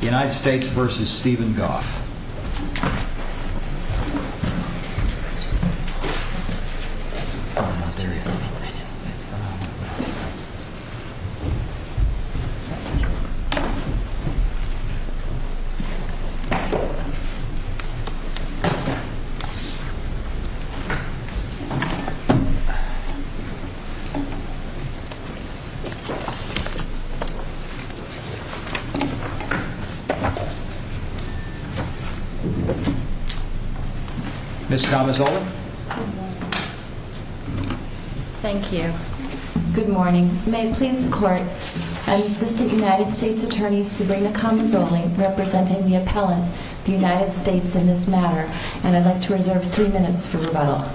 United States v. Stephen Goff Ms. Kamazole? Thank you. Good morning. May it please the court, I'm Assistant United States Attorney Serena Kamazole, representing the appellant, the United States in this matter, and I'd like to reserve three minutes for rebuttal.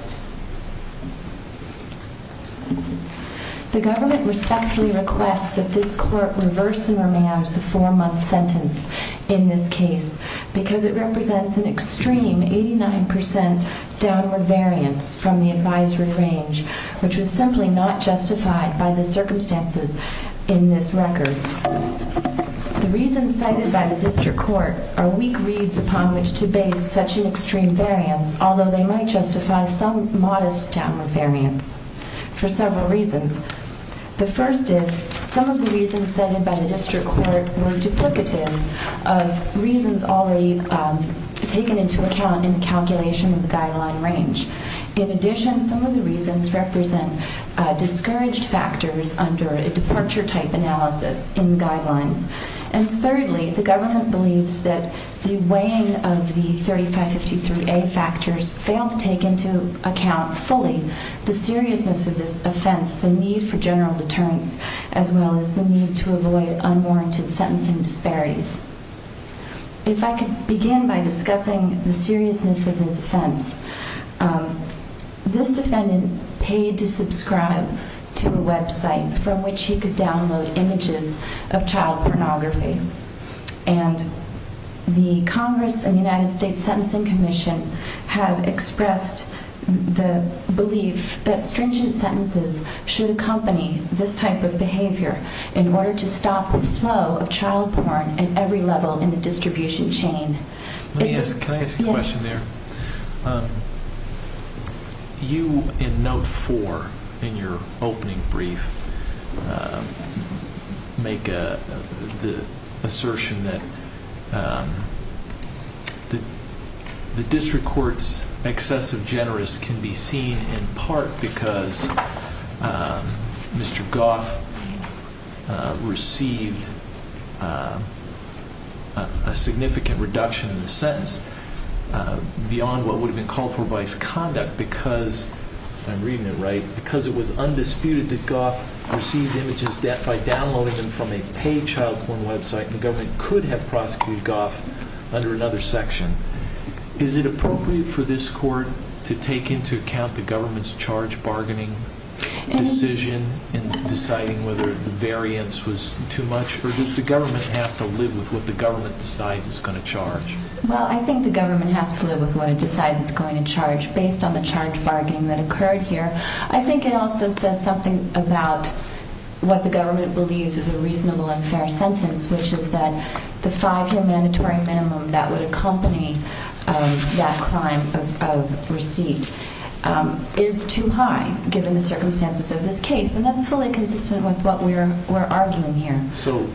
The government respectfully requests that this court reverse and remand the four-month sentence in this case because it represents an extreme 89% downward variance from the advisory range, which was simply not justified by the circumstances in this record. The reasons cited by the district court are weak reads upon which to base such an extreme variance, although they might justify some modest downward variance for several reasons. The first is some of the reasons cited by the district court were duplicative of reasons already taken into account in calculation of the guideline range. In addition, some of the reasons represent discouraged factors under a departure type analysis in guidelines. And thirdly, the government 53A factors fail to take into account fully the seriousness of this offense, the need for general deterrence, as well as the need to avoid unwarranted sentencing disparities. If I could begin by discussing the seriousness of this offense, this defendant paid to subscribe to a website from which he could download images of child pornography. And the Congress and the United States Sentencing Commission have expressed the belief that stringent sentences should accompany this type of behavior in order to stop the flow of child porn at every level in the distribution chain. Can I ask a question there? You, in note four in your opening brief, make the assertion that the district court's excess of generous can be seen in part because Mr. Goff received a significant reduction in the sentence beyond what would have been called for vice conduct because, if I'm reading it right, because it was undisputed that Goff received images by downloading them from a paid child porn website, the government could have prosecuted Goff under another section. Is it appropriate for this court to take into account the government's charge bargaining decision in deciding whether the variance was too much? Or does the government have to live with what the government decides it's going to charge? Well, I think the government has to live with what it decides it's going to charge based on the charge bargaining that occurred here. I think it also says something about what the government believes is a reasonable and fair sentence, which is that the five-year mandatory minimum that would accompany that crime of receipt is too high, given the circumstances of this case. And that's fully consistent with what we're arguing here. So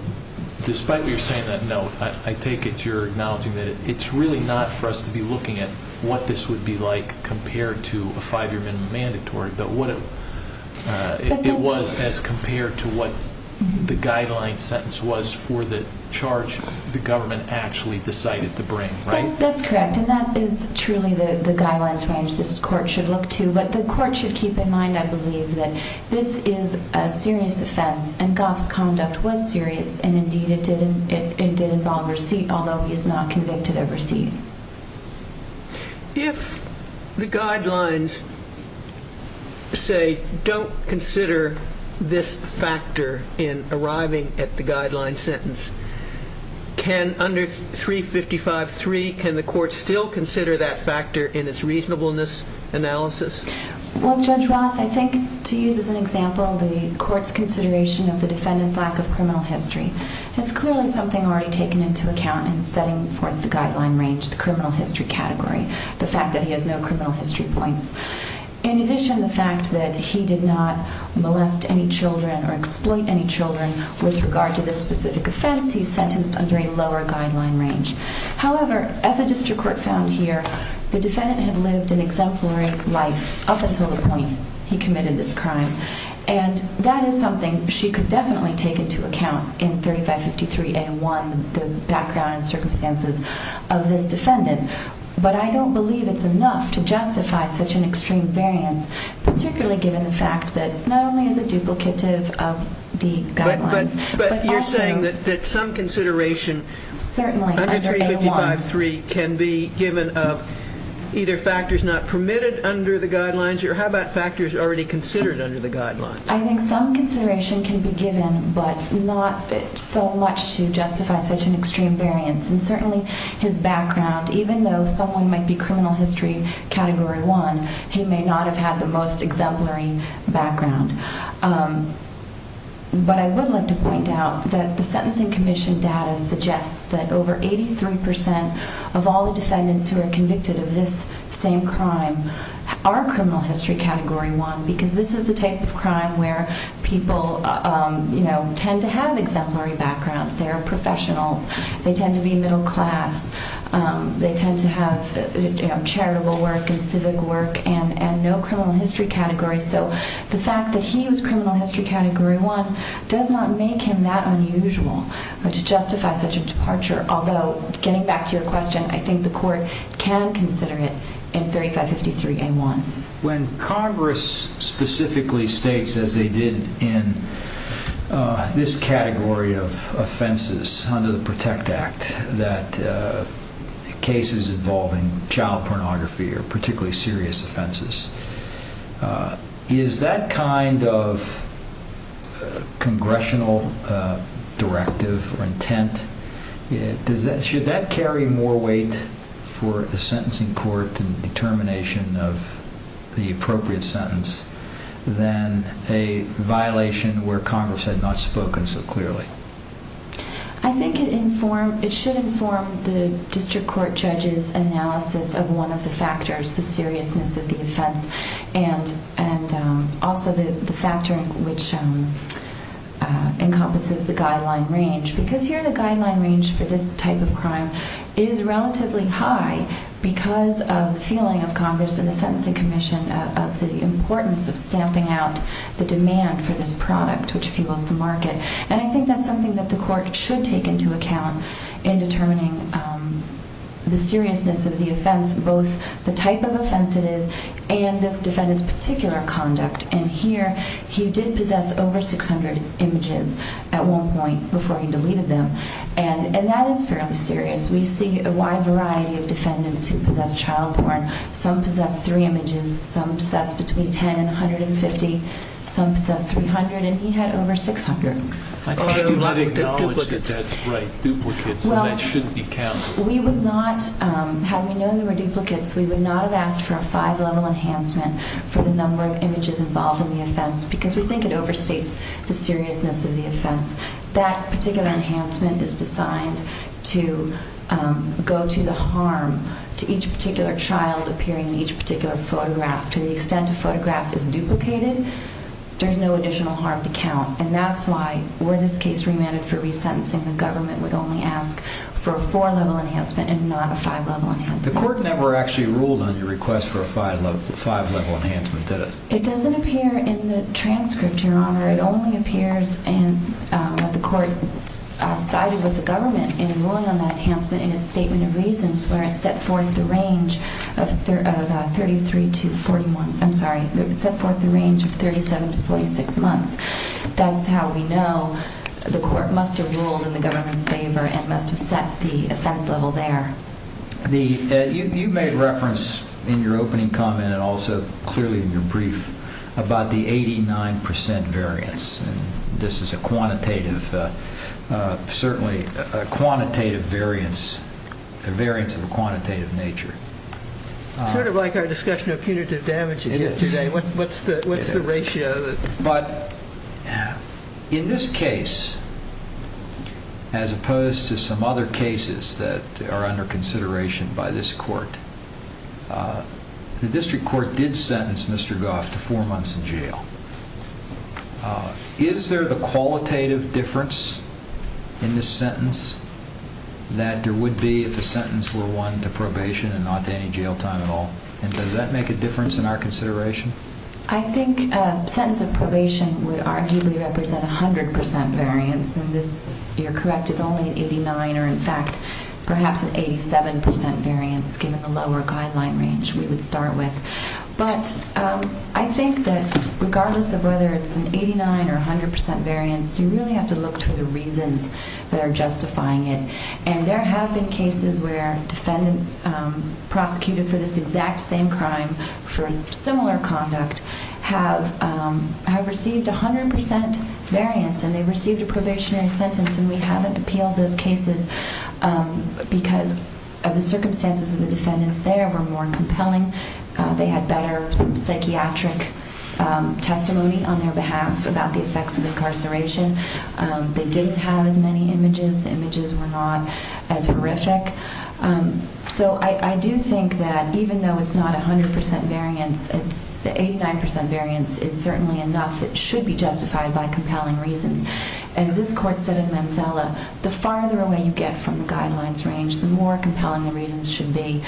despite what you're saying on that note, I take it you're acknowledging that it's really not for us to be looking at what this would be like compared to a five-year minimum mandatory, but what it was as compared to what the guideline sentence was for the charge the government actually decided to bring, right? That's correct. And that is truly the guidelines range this court should look to. But the court should keep in mind, I believe, that this is a serious offense, and Goff's conduct was serious. And indeed, it did involve receipt, although he is not convicted of receipt. If the guidelines, say, don't consider this factor in arriving at the guideline sentence, can under 355.3, can the court still consider that factor in its reasonableness analysis? Well, Judge Roth, I think to use as an example the court's consideration of the defendant's lack of criminal history. It's clearly something already taken into account in setting forth the guideline range, the criminal history category, the fact that he has no criminal history points. In addition, the fact that he did not molest any children or exploit any children with regard to this specific offense, he's sentenced under a lower guideline range. However, as the district court found here, the defendant had lived an exemplary life up until the point he committed this crime. And that is something she could definitely take into account in 3553A1, the background and circumstances of this defendant. But I don't believe it's enough to justify such an extreme variance, particularly given the fact that not only is it duplicative of the guidelines, but also... But you're saying that some consideration... Certainly, under A1. ...under 355.3 can be given of either factors not permitted under the guidelines, or how about factors already considered under the guidelines? I think some consideration can be given, but not so much to justify such an extreme variance. And certainly, his background, even though someone might be criminal history category one, he may not have had the most exemplary background. But I would like to point out that the Sentencing Commission data suggests that over 83% of all the defendants who are convicted of this same crime are criminal history category one, because this is the type of crime where people tend to have exemplary backgrounds. They are professionals. They tend to be middle class. They tend to have charitable work and civic work, and no criminal history category. So the fact that he was criminal history category one does not make him that unusual to justify such a departure. Although, getting back to your question, I think the court can consider it in 3553A1. When Congress specifically states, as they did in this category of offenses under the PROTECT Act, that cases involving child pornography are particularly serious offenses, is that kind of congressional directive or intent, should that carry more weight for the sentencing court in the determination of the appropriate sentence than a violation where Congress had not spoken so clearly? I think it should inform the district court judge's analysis of one of the factors, the seriousness of the offense, and also the factor which encompasses the guideline range. Because here the guideline range for this type of crime is relatively high because of the feeling of Congress and the sentencing commission of the importance of stamping out the demand for this product, which fuels the market. And I think that's something that the court should take into account in determining the seriousness of the offense, both the type of offense it is and this defendant's particular conduct. And here, he did possess over 600 images at one point before he deleted them. And that is fairly serious. We see a wide variety of defendants who possess child porn. Some possess three images. Some possess between 10 and 150. Some possess 300. And he had over 600. I thought you had acknowledged that that's right, duplicates, and that shouldn't be counted. Well, we would not, had we known there were duplicates, we would not have asked for a five-level enhancement for the number of images involved in the offense because we think it is the seriousness of the offense. That particular enhancement is designed to go to the harm to each particular child appearing in each particular photograph. To the extent a photograph is duplicated, there's no additional harm to count. And that's why, were this case remanded for resentencing, the government would only ask for a four-level enhancement and not a five-level enhancement. The court never actually ruled on your request for a five-level enhancement, did it? It doesn't appear in the transcript, Your Honor. It only appears in what the court cited with the government in ruling on that enhancement in its statement of reasons where it set forth the range of 33 to 41, I'm sorry, it set forth the range of 37 to 46 months. That's how we know the court must have ruled in the government's favor and must have set the offense level there. You made reference in your opening comment and also clearly in your brief about the 89 percent variance. This is a quantitative, certainly a quantitative variance, a variance of a quantitative nature. Sort of like our discussion of punitive damages yesterday. What's the ratio? But in this case, as opposed to some other cases that are under consideration by this court, the district court did sentence Mr. Goff to four months in jail. Is there the qualitative difference in this sentence that there would be if the sentence were won to probation and not to any jail time at all? And does that make a difference in our consideration? I think a sentence of probation would arguably represent 100 percent variance and this, you're correct, is only an 89 or in fact perhaps an 87 percent variance given the lower guideline range we would start with. But I think that regardless of whether it's an 89 or 100 percent variance, you really have to look to the reasons that are justifying it. And there have been cases where defendants prosecuted for this exact same crime for similar conduct have received 100 percent variance and they received a probationary sentence and we haven't appealed those cases because of the circumstances of the defendants there were more compelling. They had better psychiatric testimony on their behalf about the effects of incarceration. They didn't have as many images. The images were not as horrific. So I do think that even though it's not 100 percent variance, the 89 percent variance is certainly enough that should be justified by compelling reasons. As this court said in Manzella, the farther away you get from the guidelines range, the more compelling the reasons should be.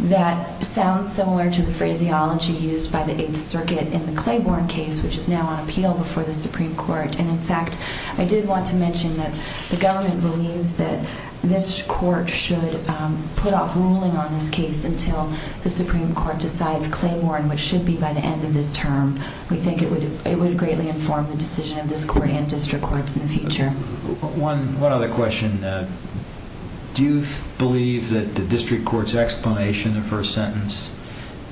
That sounds similar to the phraseology used by the 8th Circuit in the Claiborne case which is now on appeal before the Supreme Court. And in fact, I did want to mention that the government believes that this court should put off ruling on this case until the Supreme Court decides Claiborne, which should be by the end of this term. We think it would greatly inform the decision of this court and district courts in the future. One other question. Do you believe that the district court's explanation for a sentence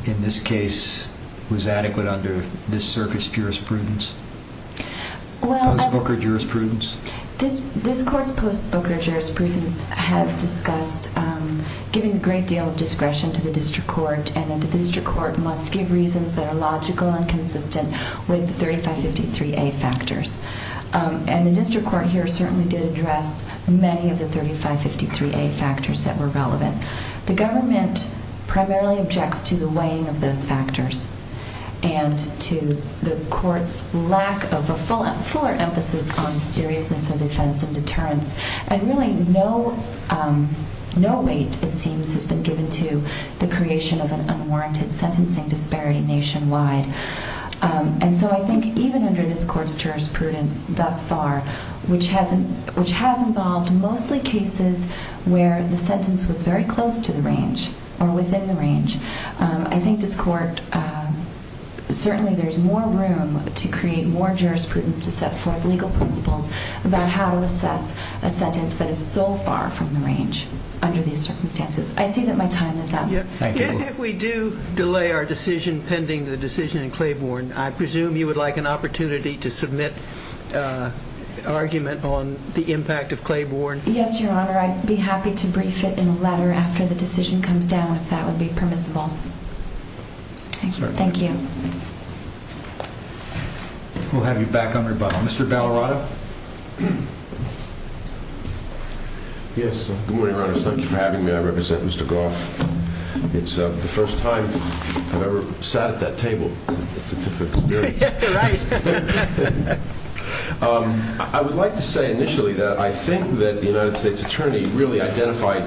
in this case was adequate under this circuit's jurisprudence? Post-Booker jurisprudence? This court's post-Booker jurisprudence has discussed giving a great deal of discretion to the district court and that the district court must give reasons that are logical and consistent with the 3553A factors. And the district court here certainly did address many of the 3553A factors that were relevant. The government primarily objects to the weighing of those factors and to the court's lack of a fuller emphasis on the seriousness of defense and deterrence. And really no weight, it seems, has been given to the creation of an unwarranted sentencing disparity nationwide. And so I think even under this court's jurisprudence thus far, which has involved mostly cases where the sentence was very close to the range or within the range, I think this court certainly there's more room to create more jurisprudence to set forth legal principles about how to assess a sentence that is so far from the range under these circumstances. I see that my time is up. We do delay our decision pending the decision in Claiborne. I presume you would like an argument on the impact of Claiborne? Yes, Your Honor, I'd be happy to brief it in a letter after the decision comes down, if that would be permissible. Thank you. We'll have you back on your bottom. Mr. Ballarato? Yes, good morning, Your Honor. Thank you for having me. I represent Mr. Goff. It's the first time I've ever sat at that table. It's a different experience. I would like to say initially that I think that the United States Attorney really identified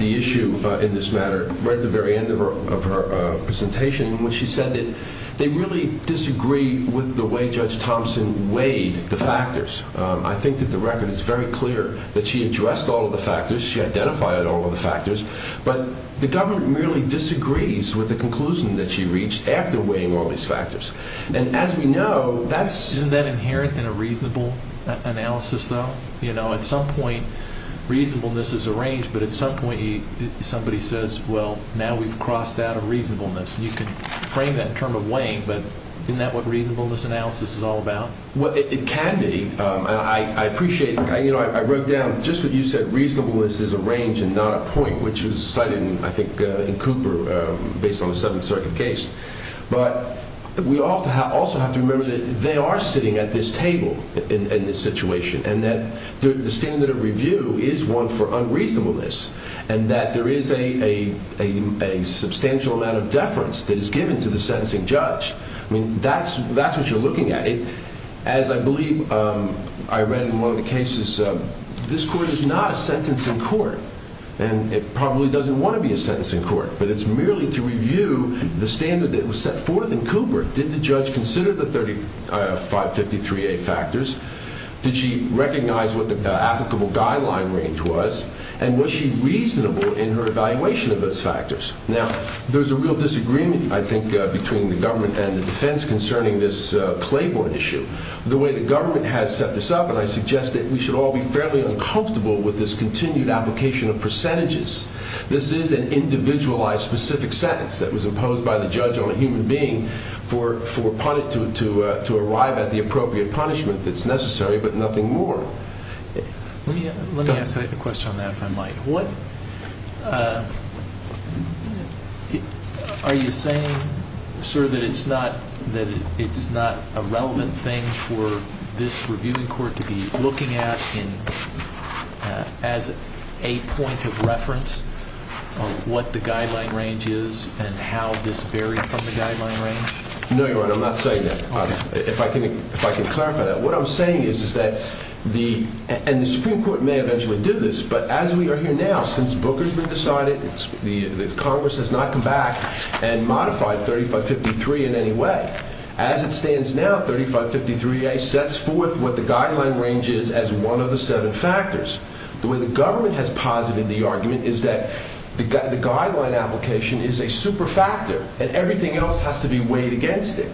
the issue in this matter right at the very end of her presentation when she said that they really disagree with the way Judge Thompson weighed the factors. I think that the record is very clear that she addressed all of the factors. She identified all of the factors. But the government really disagrees with the conclusion that she reached after weighing all of these factors. And as we know, that's... Isn't that inherent in a reasonable analysis though? At some point reasonableness is a range, but at some point somebody says, well, now we've crossed out a reasonableness. You can frame that in terms of weighing, but isn't that what reasonableness analysis is all about? Well, it can be. I appreciate... I wrote down just what you said, reasonableness is a range and not a point, which was cited, I think, in Cooper based on the Seventh Circuit case. But we also have to remember that they are sitting at this table in this situation and that the standard of review is one for unreasonableness and that there is a substantial amount of deference that is given to the sentencing judge. I mean, that's what you're looking at. As I believe I read in one of the cases this court is not a sentencing court and it probably doesn't want to be a sentencing court, but it's merely to review the standard that was set forth in Cooper. Did the judge consider the 3553A factors? Did she recognize what the applicable guideline range was? And was she reasonable in her evaluation of those factors? Now, there's a real disagreement, I think, between the government and the defense concerning this Claiborne issue. The way the defense is going to go about this is that the judge will be fairly uncomfortable with this continued application of percentages. This is an individualized specific sentence that was imposed by the judge on a human being for pun... to arrive at the appropriate punishment that's necessary, but nothing more. Let me ask a question on that, if I might. What... Are you saying, sir, that it's not a relevant thing for this reviewing court to be looking at in... as a point of reference on what the guideline range is and how this varied from the guideline range? No, you're right. I'm not saying that. If I can... if I can clarify that. What I'm saying is that the... and the Supreme Court may eventually do this, but as we are here now, since Booker has been decided, the Congress has not come back and modified 3553 in any way. As it stands now, 3553A sets forth what the guideline range is as one of the seven factors. The way the government has posited the argument is that the gu... the guideline application is a super factor and everything else has to be weighed against it.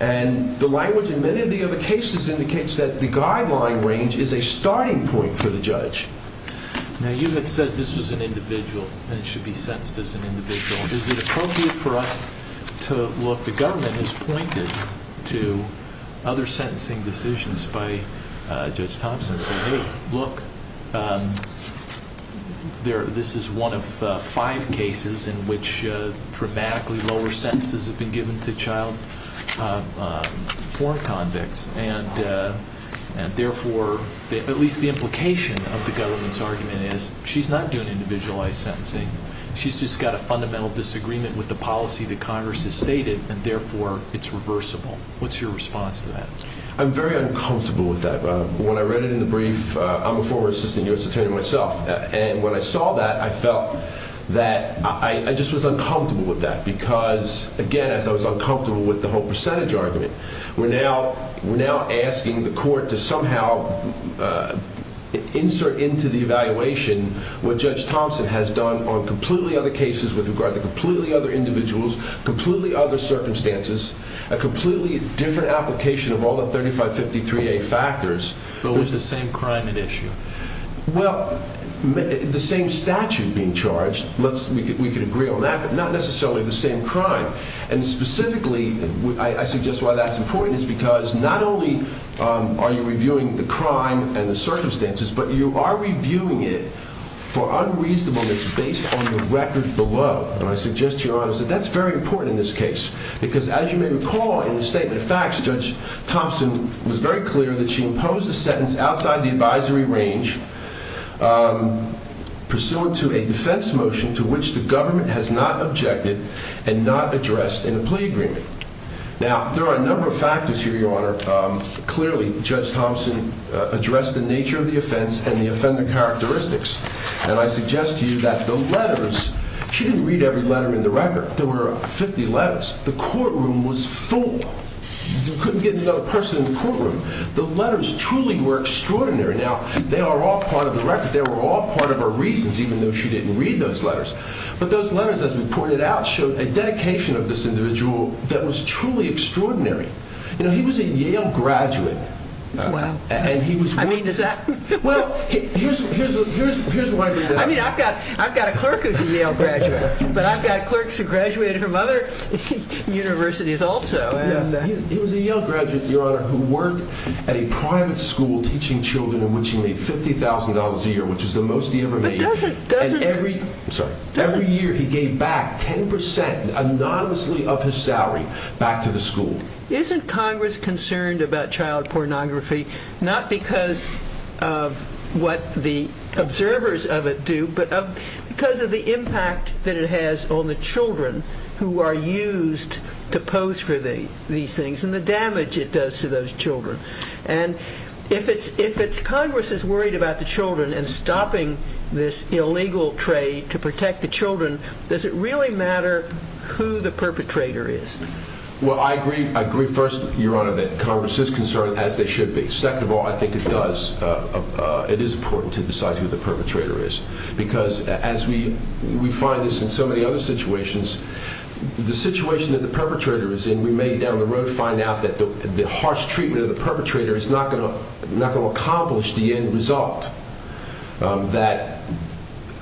And the language in many of the other cases indicates that the guideline range is a starting point for the judge. Now, you had said this was an individual and it should be sentenced as an individual. Is it appropriate for us to... look, the government has pointed to other sentencing decisions by Judge Thompson saying, hey, look, there... this is one of five cases in which dramatically lower sentences have been given to child porn convicts. And therefore, at least the implication of the government's argument is she's not doing individualized sentencing. She's just got a fundamental disagreement with the policy that Congress has stated and therefore it's reversible. What's your response to that? I'm very uncomfortable with that. When I read it in the brief, I'm a former assistant U.S. attorney myself. And when I saw that, I felt that I... I just was uncomfortable with that because, again, as I was uncomfortable with the whole percentage argument. We're now... we're now asking the court to somehow insert into the evaluation what Judge Thompson has done on completely other cases with regard to completely other individuals, completely other circumstances, a completely different application of all the 3553A factors. But with the same crime at issue. Well, the same statute being charged. Let's... we could agree on that, but not necessarily the same crime. And specifically, I suggest why that's important is because not only are you reviewing the crime and the circumstances, but you are reviewing it for unreasonable reasons based on the record below. And I suggest to Your Honor that that's very important in this case because as you may recall in the statement of facts, Judge Thompson was very clear that she imposed the sentence outside the advisory range pursuant to a defense motion to which the government has not objected and not addressed in a plea agreement. Now there are a number of factors here, Your Honor. Clearly, Judge Thompson addressed the nature of the offense and the offender characteristics. And I suggest to you that the letters... she didn't read every letter in the record. There were 50 letters. The courtroom was full. You couldn't get another person in the courtroom. The letters truly were extraordinary. Now, they are all part of the record. They were all part of her reasons, even though she didn't read those letters. But those letters, as we pointed out, showed a dedication of this individual that was truly extraordinary. You know, he was a Yale graduate and he was... I mean, does that... Well, here's why... I mean, I've got a clerk who's a Yale graduate, but I've got clerks who graduated from other universities also. He was a Yale graduate, Your Honor, who worked at a private school teaching children in which he made $50,000 a year, which is the most he ever made. But doesn't... Sorry. Every year he gave back 10% anonymously of his salary back to the school. And isn't Congress concerned about child pornography, not because of what the observers of it do, but because of the impact that it has on the children who are used to pose for these things and the damage it does to those children? And if it's... Congress is worried about the children and stopping this illegal trade to protect the children, does it really matter who the perpetrator is? Well, I agree. I agree first, Your Honor, that Congress is concerned, as they should be. Second of all, I think it does. It is important to decide who the perpetrator is because as we find this in so many other situations, the situation that the perpetrator is in, we may down the road find out that the harsh treatment of the perpetrator is not going to accomplish the end result. That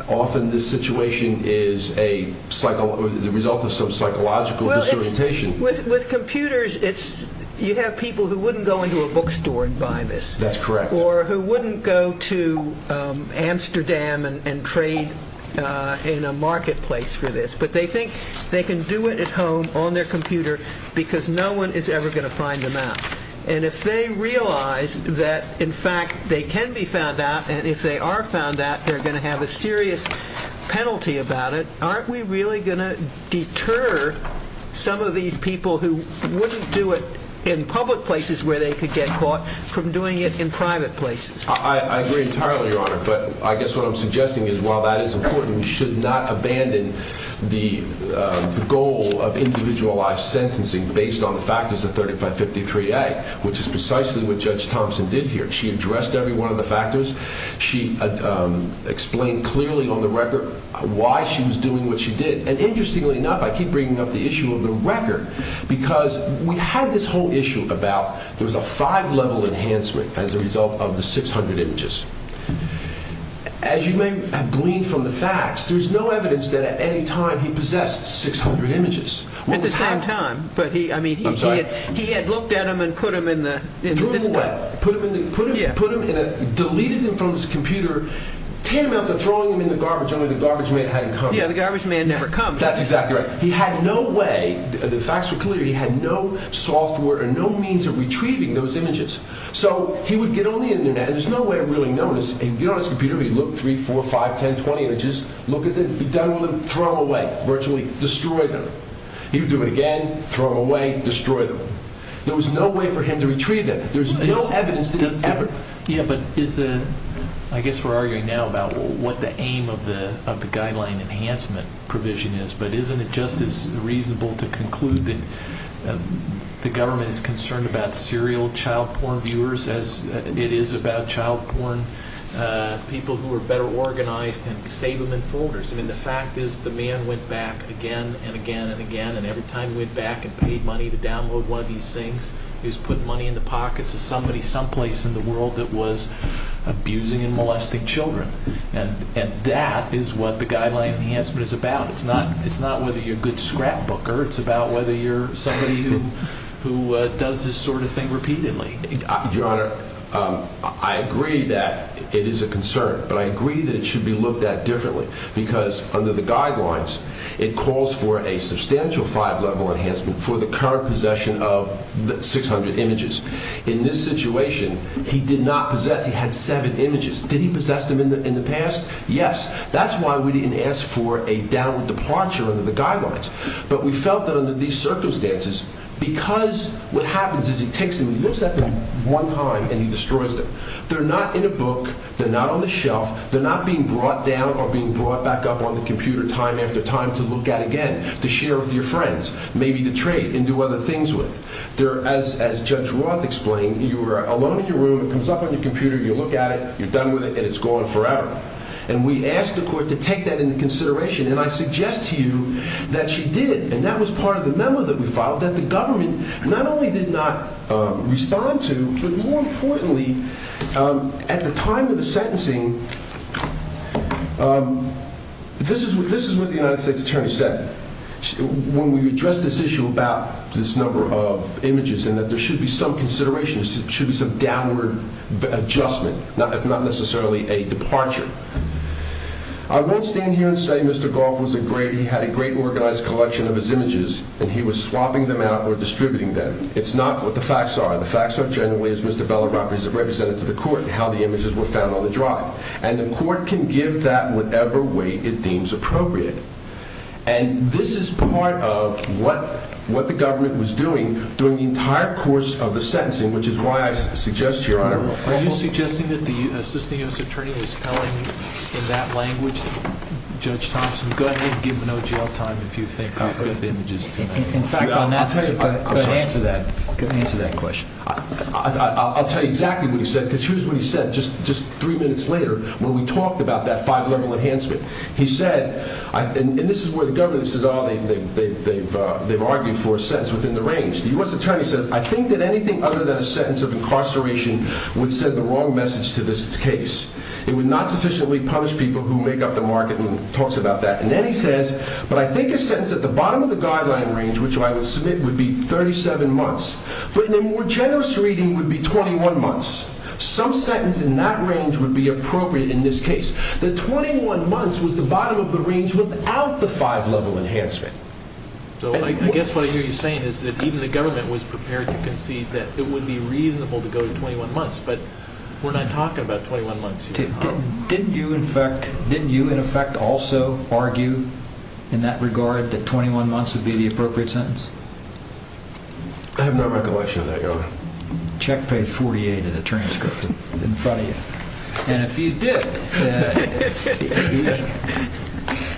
often this situation is a psychological... the result of some psychological disorientation. With computers, it's... you have people who wouldn't go into a bookstore and buy this. That's correct. Or who wouldn't go to Amsterdam and trade in a marketplace for this. But they think they can do it at home on their computer because no one is ever going to find them out. And if they realize that in fact they can be found out, and if they are found out, they're going to have a serious penalty about it, aren't we really going to deter some of these people who wouldn't do it in public places where they could get caught from doing it in private places? I agree entirely, Your Honor. But I guess what I'm suggesting is while that is important, we should not abandon the goal of individualized sentencing based on the factors of 3553A, which is precisely what Judge Thompson did here. She addressed every one of the factors. She explained clearly on the record why she was doing what she did. And interestingly enough, I keep bringing up the issue of the record because we had this whole issue about there was a five-level enhancement as a result of the 600 images. As you may have gleaned from the facts, there's no evidence that at any time he possessed 600 images. At the same time, but he... I mean, he had looked at them and put them in the... put them in a... deleted them from his computer, tantamount to throwing them in the garbage only the garbage man hadn't come. Yeah, the garbage man never comes. That's exactly right. He had no way, the facts were clear, he had no software or no means of retrieving those images. So he would get on the internet, and there's no way of really knowing this, he'd get on his computer, he'd look three, four, five, ten, twenty images, look at them, he'd done all of them, throw them away, virtually destroy them. He would do it again, throw them away, destroy them. There was no way for him to retrieve them. There's no evidence that he ever... Yeah, but is the... I guess we're arguing now about what the aim of the guideline enhancement provision is, but isn't it just as reasonable to conclude that the government is concerned about serial child porn viewers as it is about child porn people who are better organized and save them in folders? I mean, the fact is the man went back again and again and again, and every time he went back and paid money to download one of these things, he was putting money in the pockets of somebody someplace in the world that was abusing and molesting children. And that is what the guideline enhancement is about. It's not whether you're a good scrapbooker, it's about whether you're somebody who does this sort of thing repeatedly. Your Honor, I agree that it is a concern, but I agree that it should be looked at differently, because under the guidelines, it calls for a substantial five-level enhancement for the current possession of 600 images. In this situation, he did not possess, he had seven images. Did he possess them in the past? Yes. That's why we didn't ask for a downward departure under the guidelines. But we felt that under these circumstances, because what happens is he takes them, he looks at them one time, and he destroys them. They're not in a book, they're not on the shelf, they're not being brought down or being brought back up on the computer time after time to look at again, to share with your friends, maybe to trade and do other things with. As Judge Roth explained, you are alone in your room, it comes up on your computer, you look at it, you're done with it, and it's gone forever. And we asked the court to take that into consideration, and I suggest to you that she did. And that was part of the memo that we filed, that the government not only did not respond to, but more importantly, at the time of the sentencing, this is what the United States Attorney said when we addressed this issue about this number of images, and that there should be some consideration, there should be some downward adjustment, if not necessarily a departure. I won't stand here and say Mr. Goff was a great, he had a great organized collection of his images, and he was swapping them out or distributing them. It's not what the facts are. The facts are generally, as Mr. Beller represented to the court, how the images were found on the And this is part of what the government was doing, during the entire course of the sentencing, which is why I suggest to your Honor... Are you suggesting that the Assistant U.S. Attorney is telling in that language, Judge Thompson, go ahead and give him no jail time if you think the images... In fact, I'll tell you... Go ahead. Go ahead and answer that question. I'll tell you exactly what he said, because here's what he said, just three minutes later, when we talked about that five-level enhancement. He said, and this is where the government says, oh, they've argued for a sentence within the range. The U.S. Attorney says, I think that anything other than a sentence of incarceration would send the wrong message to this case. It would not sufficiently punish people who make up the market and talks about that. And then he says, but I think a sentence at the bottom of the guideline range, which I would submit would be 37 months, but in a more generous reading would be 21 months. Some sentence in that range would be appropriate in this case. The 21 months was the bottom of the range without the five-level enhancement. So I guess what I hear you saying is that even the government was prepared to concede that it would be reasonable to go to 21 months, but we're not talking about 21 months here. Didn't you, in effect, didn't you, in effect, also argue in that regard that 21 months would be the appropriate sentence? I have no recollection of that, Your Honor. Check page 48 of the transcript in front of you. And if you did,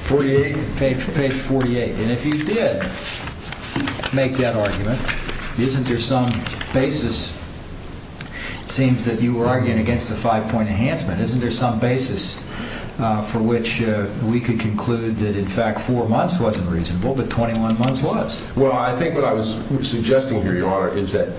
48, page 48, and if you did make that argument, isn't there some basis? It seems that you were arguing against the five-point enhancement. Isn't there some basis for which we could conclude that, in fact, four months wasn't reasonable, but 21 months was? Well, I think what I was suggesting here, Your Honor, is that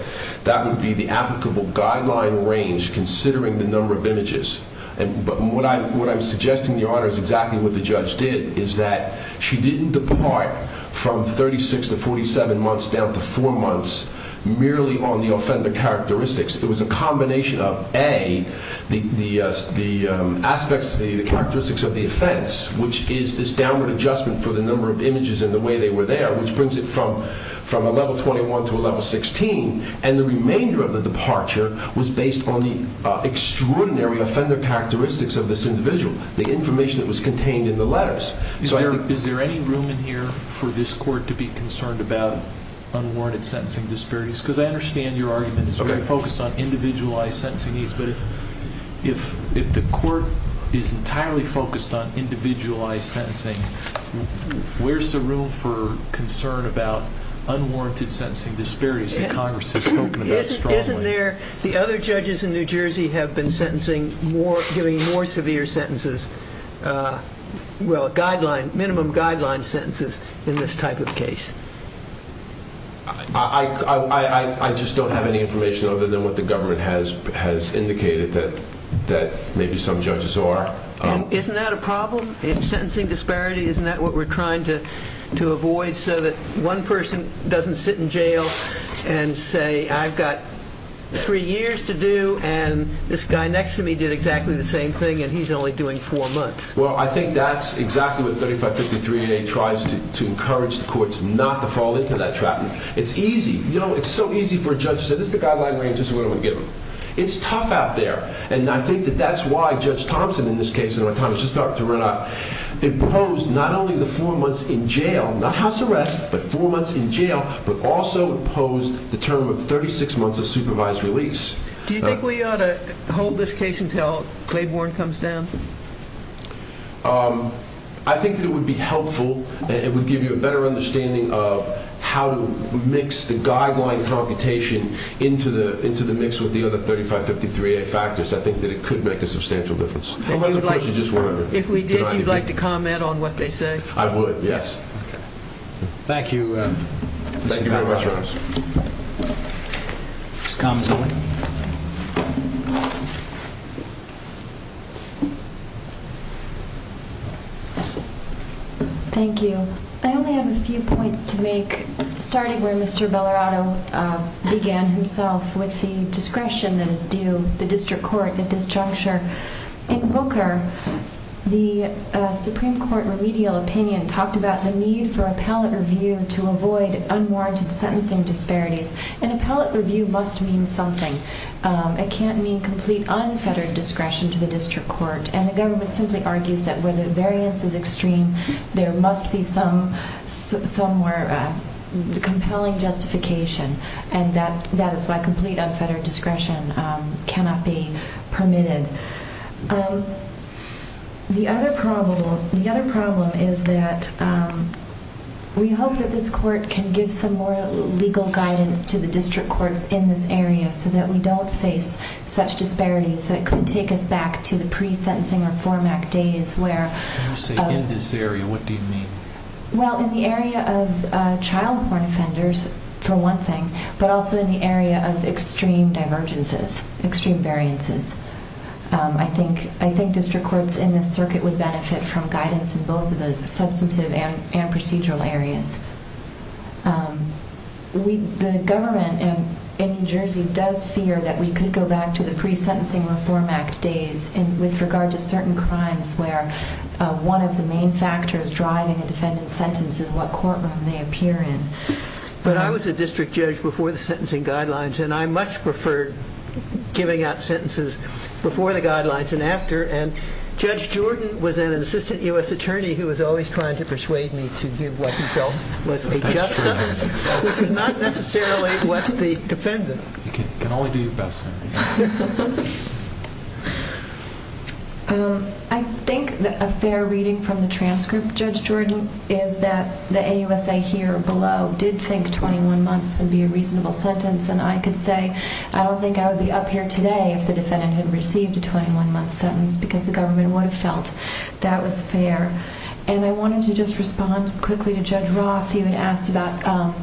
that would be the applicable guideline range considering the number of images. But what I was suggesting, Your Honor, is exactly what the judge did, is that she didn't depart from 36 to 47 months down to four months merely on the offender characteristics. It was a combination of, A, the aspects, the characteristics of the offense, which is this downward adjustment for the number of images and the way they were there, which brings it from a level 21 to a level 16, and the remainder of the departure was based on the extraordinary offender characteristics of this individual, the information that was contained in the letters. Is there any room in here for this Court to be concerned about unwarranted sentencing disparities? Because I understand your argument is very focused on individualized sentencing needs, but if the Court is entirely focused on individualized sentencing, where's the room for concern about unwarranted sentencing disparities that Congress has spoken about strongly? Isn't there, the other judges in New Jersey have been sentencing more, giving more severe sentences, well, guideline, minimum guideline sentences in this type of case? I just don't have any information other than what the government has indicated that maybe some judges are. Isn't that a problem? Sentencing disparity, isn't that what we're trying to avoid so that one person doesn't sit in jail and say, I've got three years to do and this guy next to me did exactly the same thing and he's only doing four months? Well, I think that's exactly what 3553A tries to encourage the courts not to fall into that trap. It's easy, you know, it's so easy for a judge to say, this is the guideline range, this is what I'm going to give him. It's tough out there, and I think that that's why Judge Thompson in this case, in my time as his doctor ran out, imposed not only the four months in jail, not house arrest, but four months in jail, but also imposed the term of 36 months of supervised release. Do you think we ought to hold this case until Claiborne comes down? I think it would be helpful. It would give you a better understanding of how to mix the guideline computation into the mix with the other 3553A factors. I think that it could make a substantial difference. If we did, would you like to comment on what they say? I would, yes. Thank you. Thank you very much, Your Honor. Mr. Khamis. Thank you. I only have a few points to make, starting where Mr. Bellarato began himself with the discretion that is due the district court at this juncture. In Booker, the Supreme Court remedial opinion talked about the need for appellate review to avoid unwarranted sentencing disparities, and appellate review must mean something. It can't mean complete unfettered discretion to the district court, and the government simply argues that where the variance is extreme, there must be some more compelling justification, and that is why complete unfettered discretion cannot be permitted. The other problem is that we hope that this court can give some more legal guidance to the district courts in this area so that we don't face such disparities that could take us back to the pre-sentencing reform act days where... When you say in this area, what do you mean? Well, in the area of child porn offenders, for one thing, but also in the area of extreme divergences, extreme variances. I think district courts in this circuit would benefit from does fear that we could go back to the pre-sentencing reform act days with regard to certain crimes where one of the main factors driving a defendant's sentence is what courtroom they appear in. But I was a district judge before the sentencing guidelines, and I much preferred giving out sentences before the guidelines than after, and Judge Jordan was an assistant U.S. attorney who was always trying to persuade me to give what he felt was a just sentence, which was not necessarily what the defendant... You can only do your best. I think a fair reading from the transcript, Judge Jordan, is that the AUSA here below did think 21 months would be a reasonable sentence, and I could say I don't think I would be up here today if the defendant had received a 21-month sentence because the government would have felt that was fair. And I wanted to just respond quickly to Judge Roth. He had asked about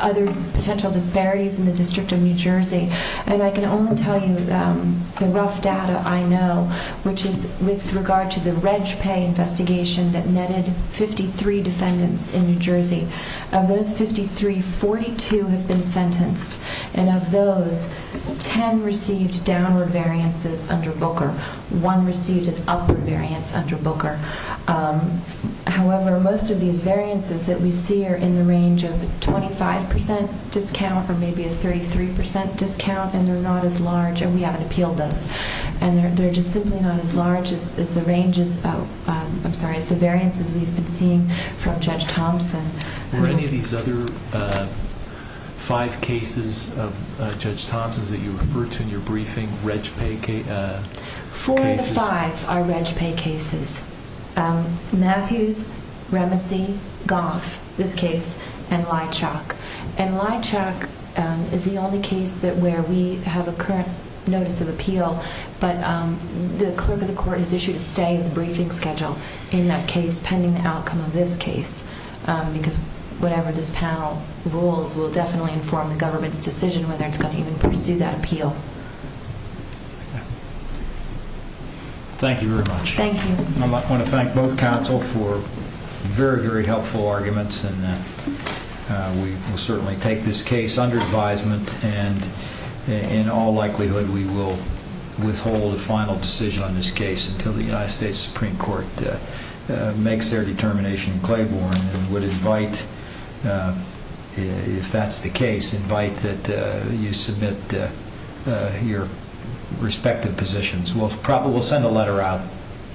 other potential disparities in the District of New Jersey, and I can only tell you the rough data I know, which is with regard to the RegPay investigation that netted 53 defendants in New Jersey. Of those 53, 42 have been sentenced, and of those, 10 received downward variances under Booker. One received an upward variance under Booker. However, most of these variances that we see are in the range of a 25 percent discount or maybe a 33 percent discount, and they're not as large, and we haven't appealed those. And they're just simply not as large as the ranges... I'm sorry, as the variances we've been seeing from Judge Thompson. Were any of these other five cases of Judge Thompson's that you referred to in your briefing RegPay cases? Four of the five are RegPay cases. Matthews, Remesey, Goff, this case, and Leitchak. And Leitchak is the only case where we have a current notice of appeal, but the clerk of the court has issued a stay in the briefing schedule in that case pending the outcome of this case, because whatever this panel rules will definitely inform the government's Thank you very much. Thank you. I want to thank both counsel for very, very helpful arguments, and we will certainly take this case under advisement, and in all likelihood, we will withhold a final decision on this case until the United States Supreme Court makes their determination in Claiborne and would invite, if that's the case, invite that you submit your respective positions. We'll probably send a letter out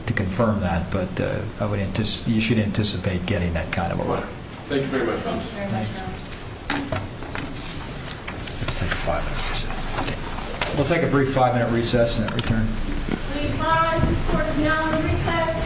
to confirm that, but you should anticipate getting that kind of a word. Thank you very much, counsel. Thank you very much, counsel. We'll take a brief five-minute recess and then return. Please rise. This court is now in recess. Thank you. Thank you. Thank you.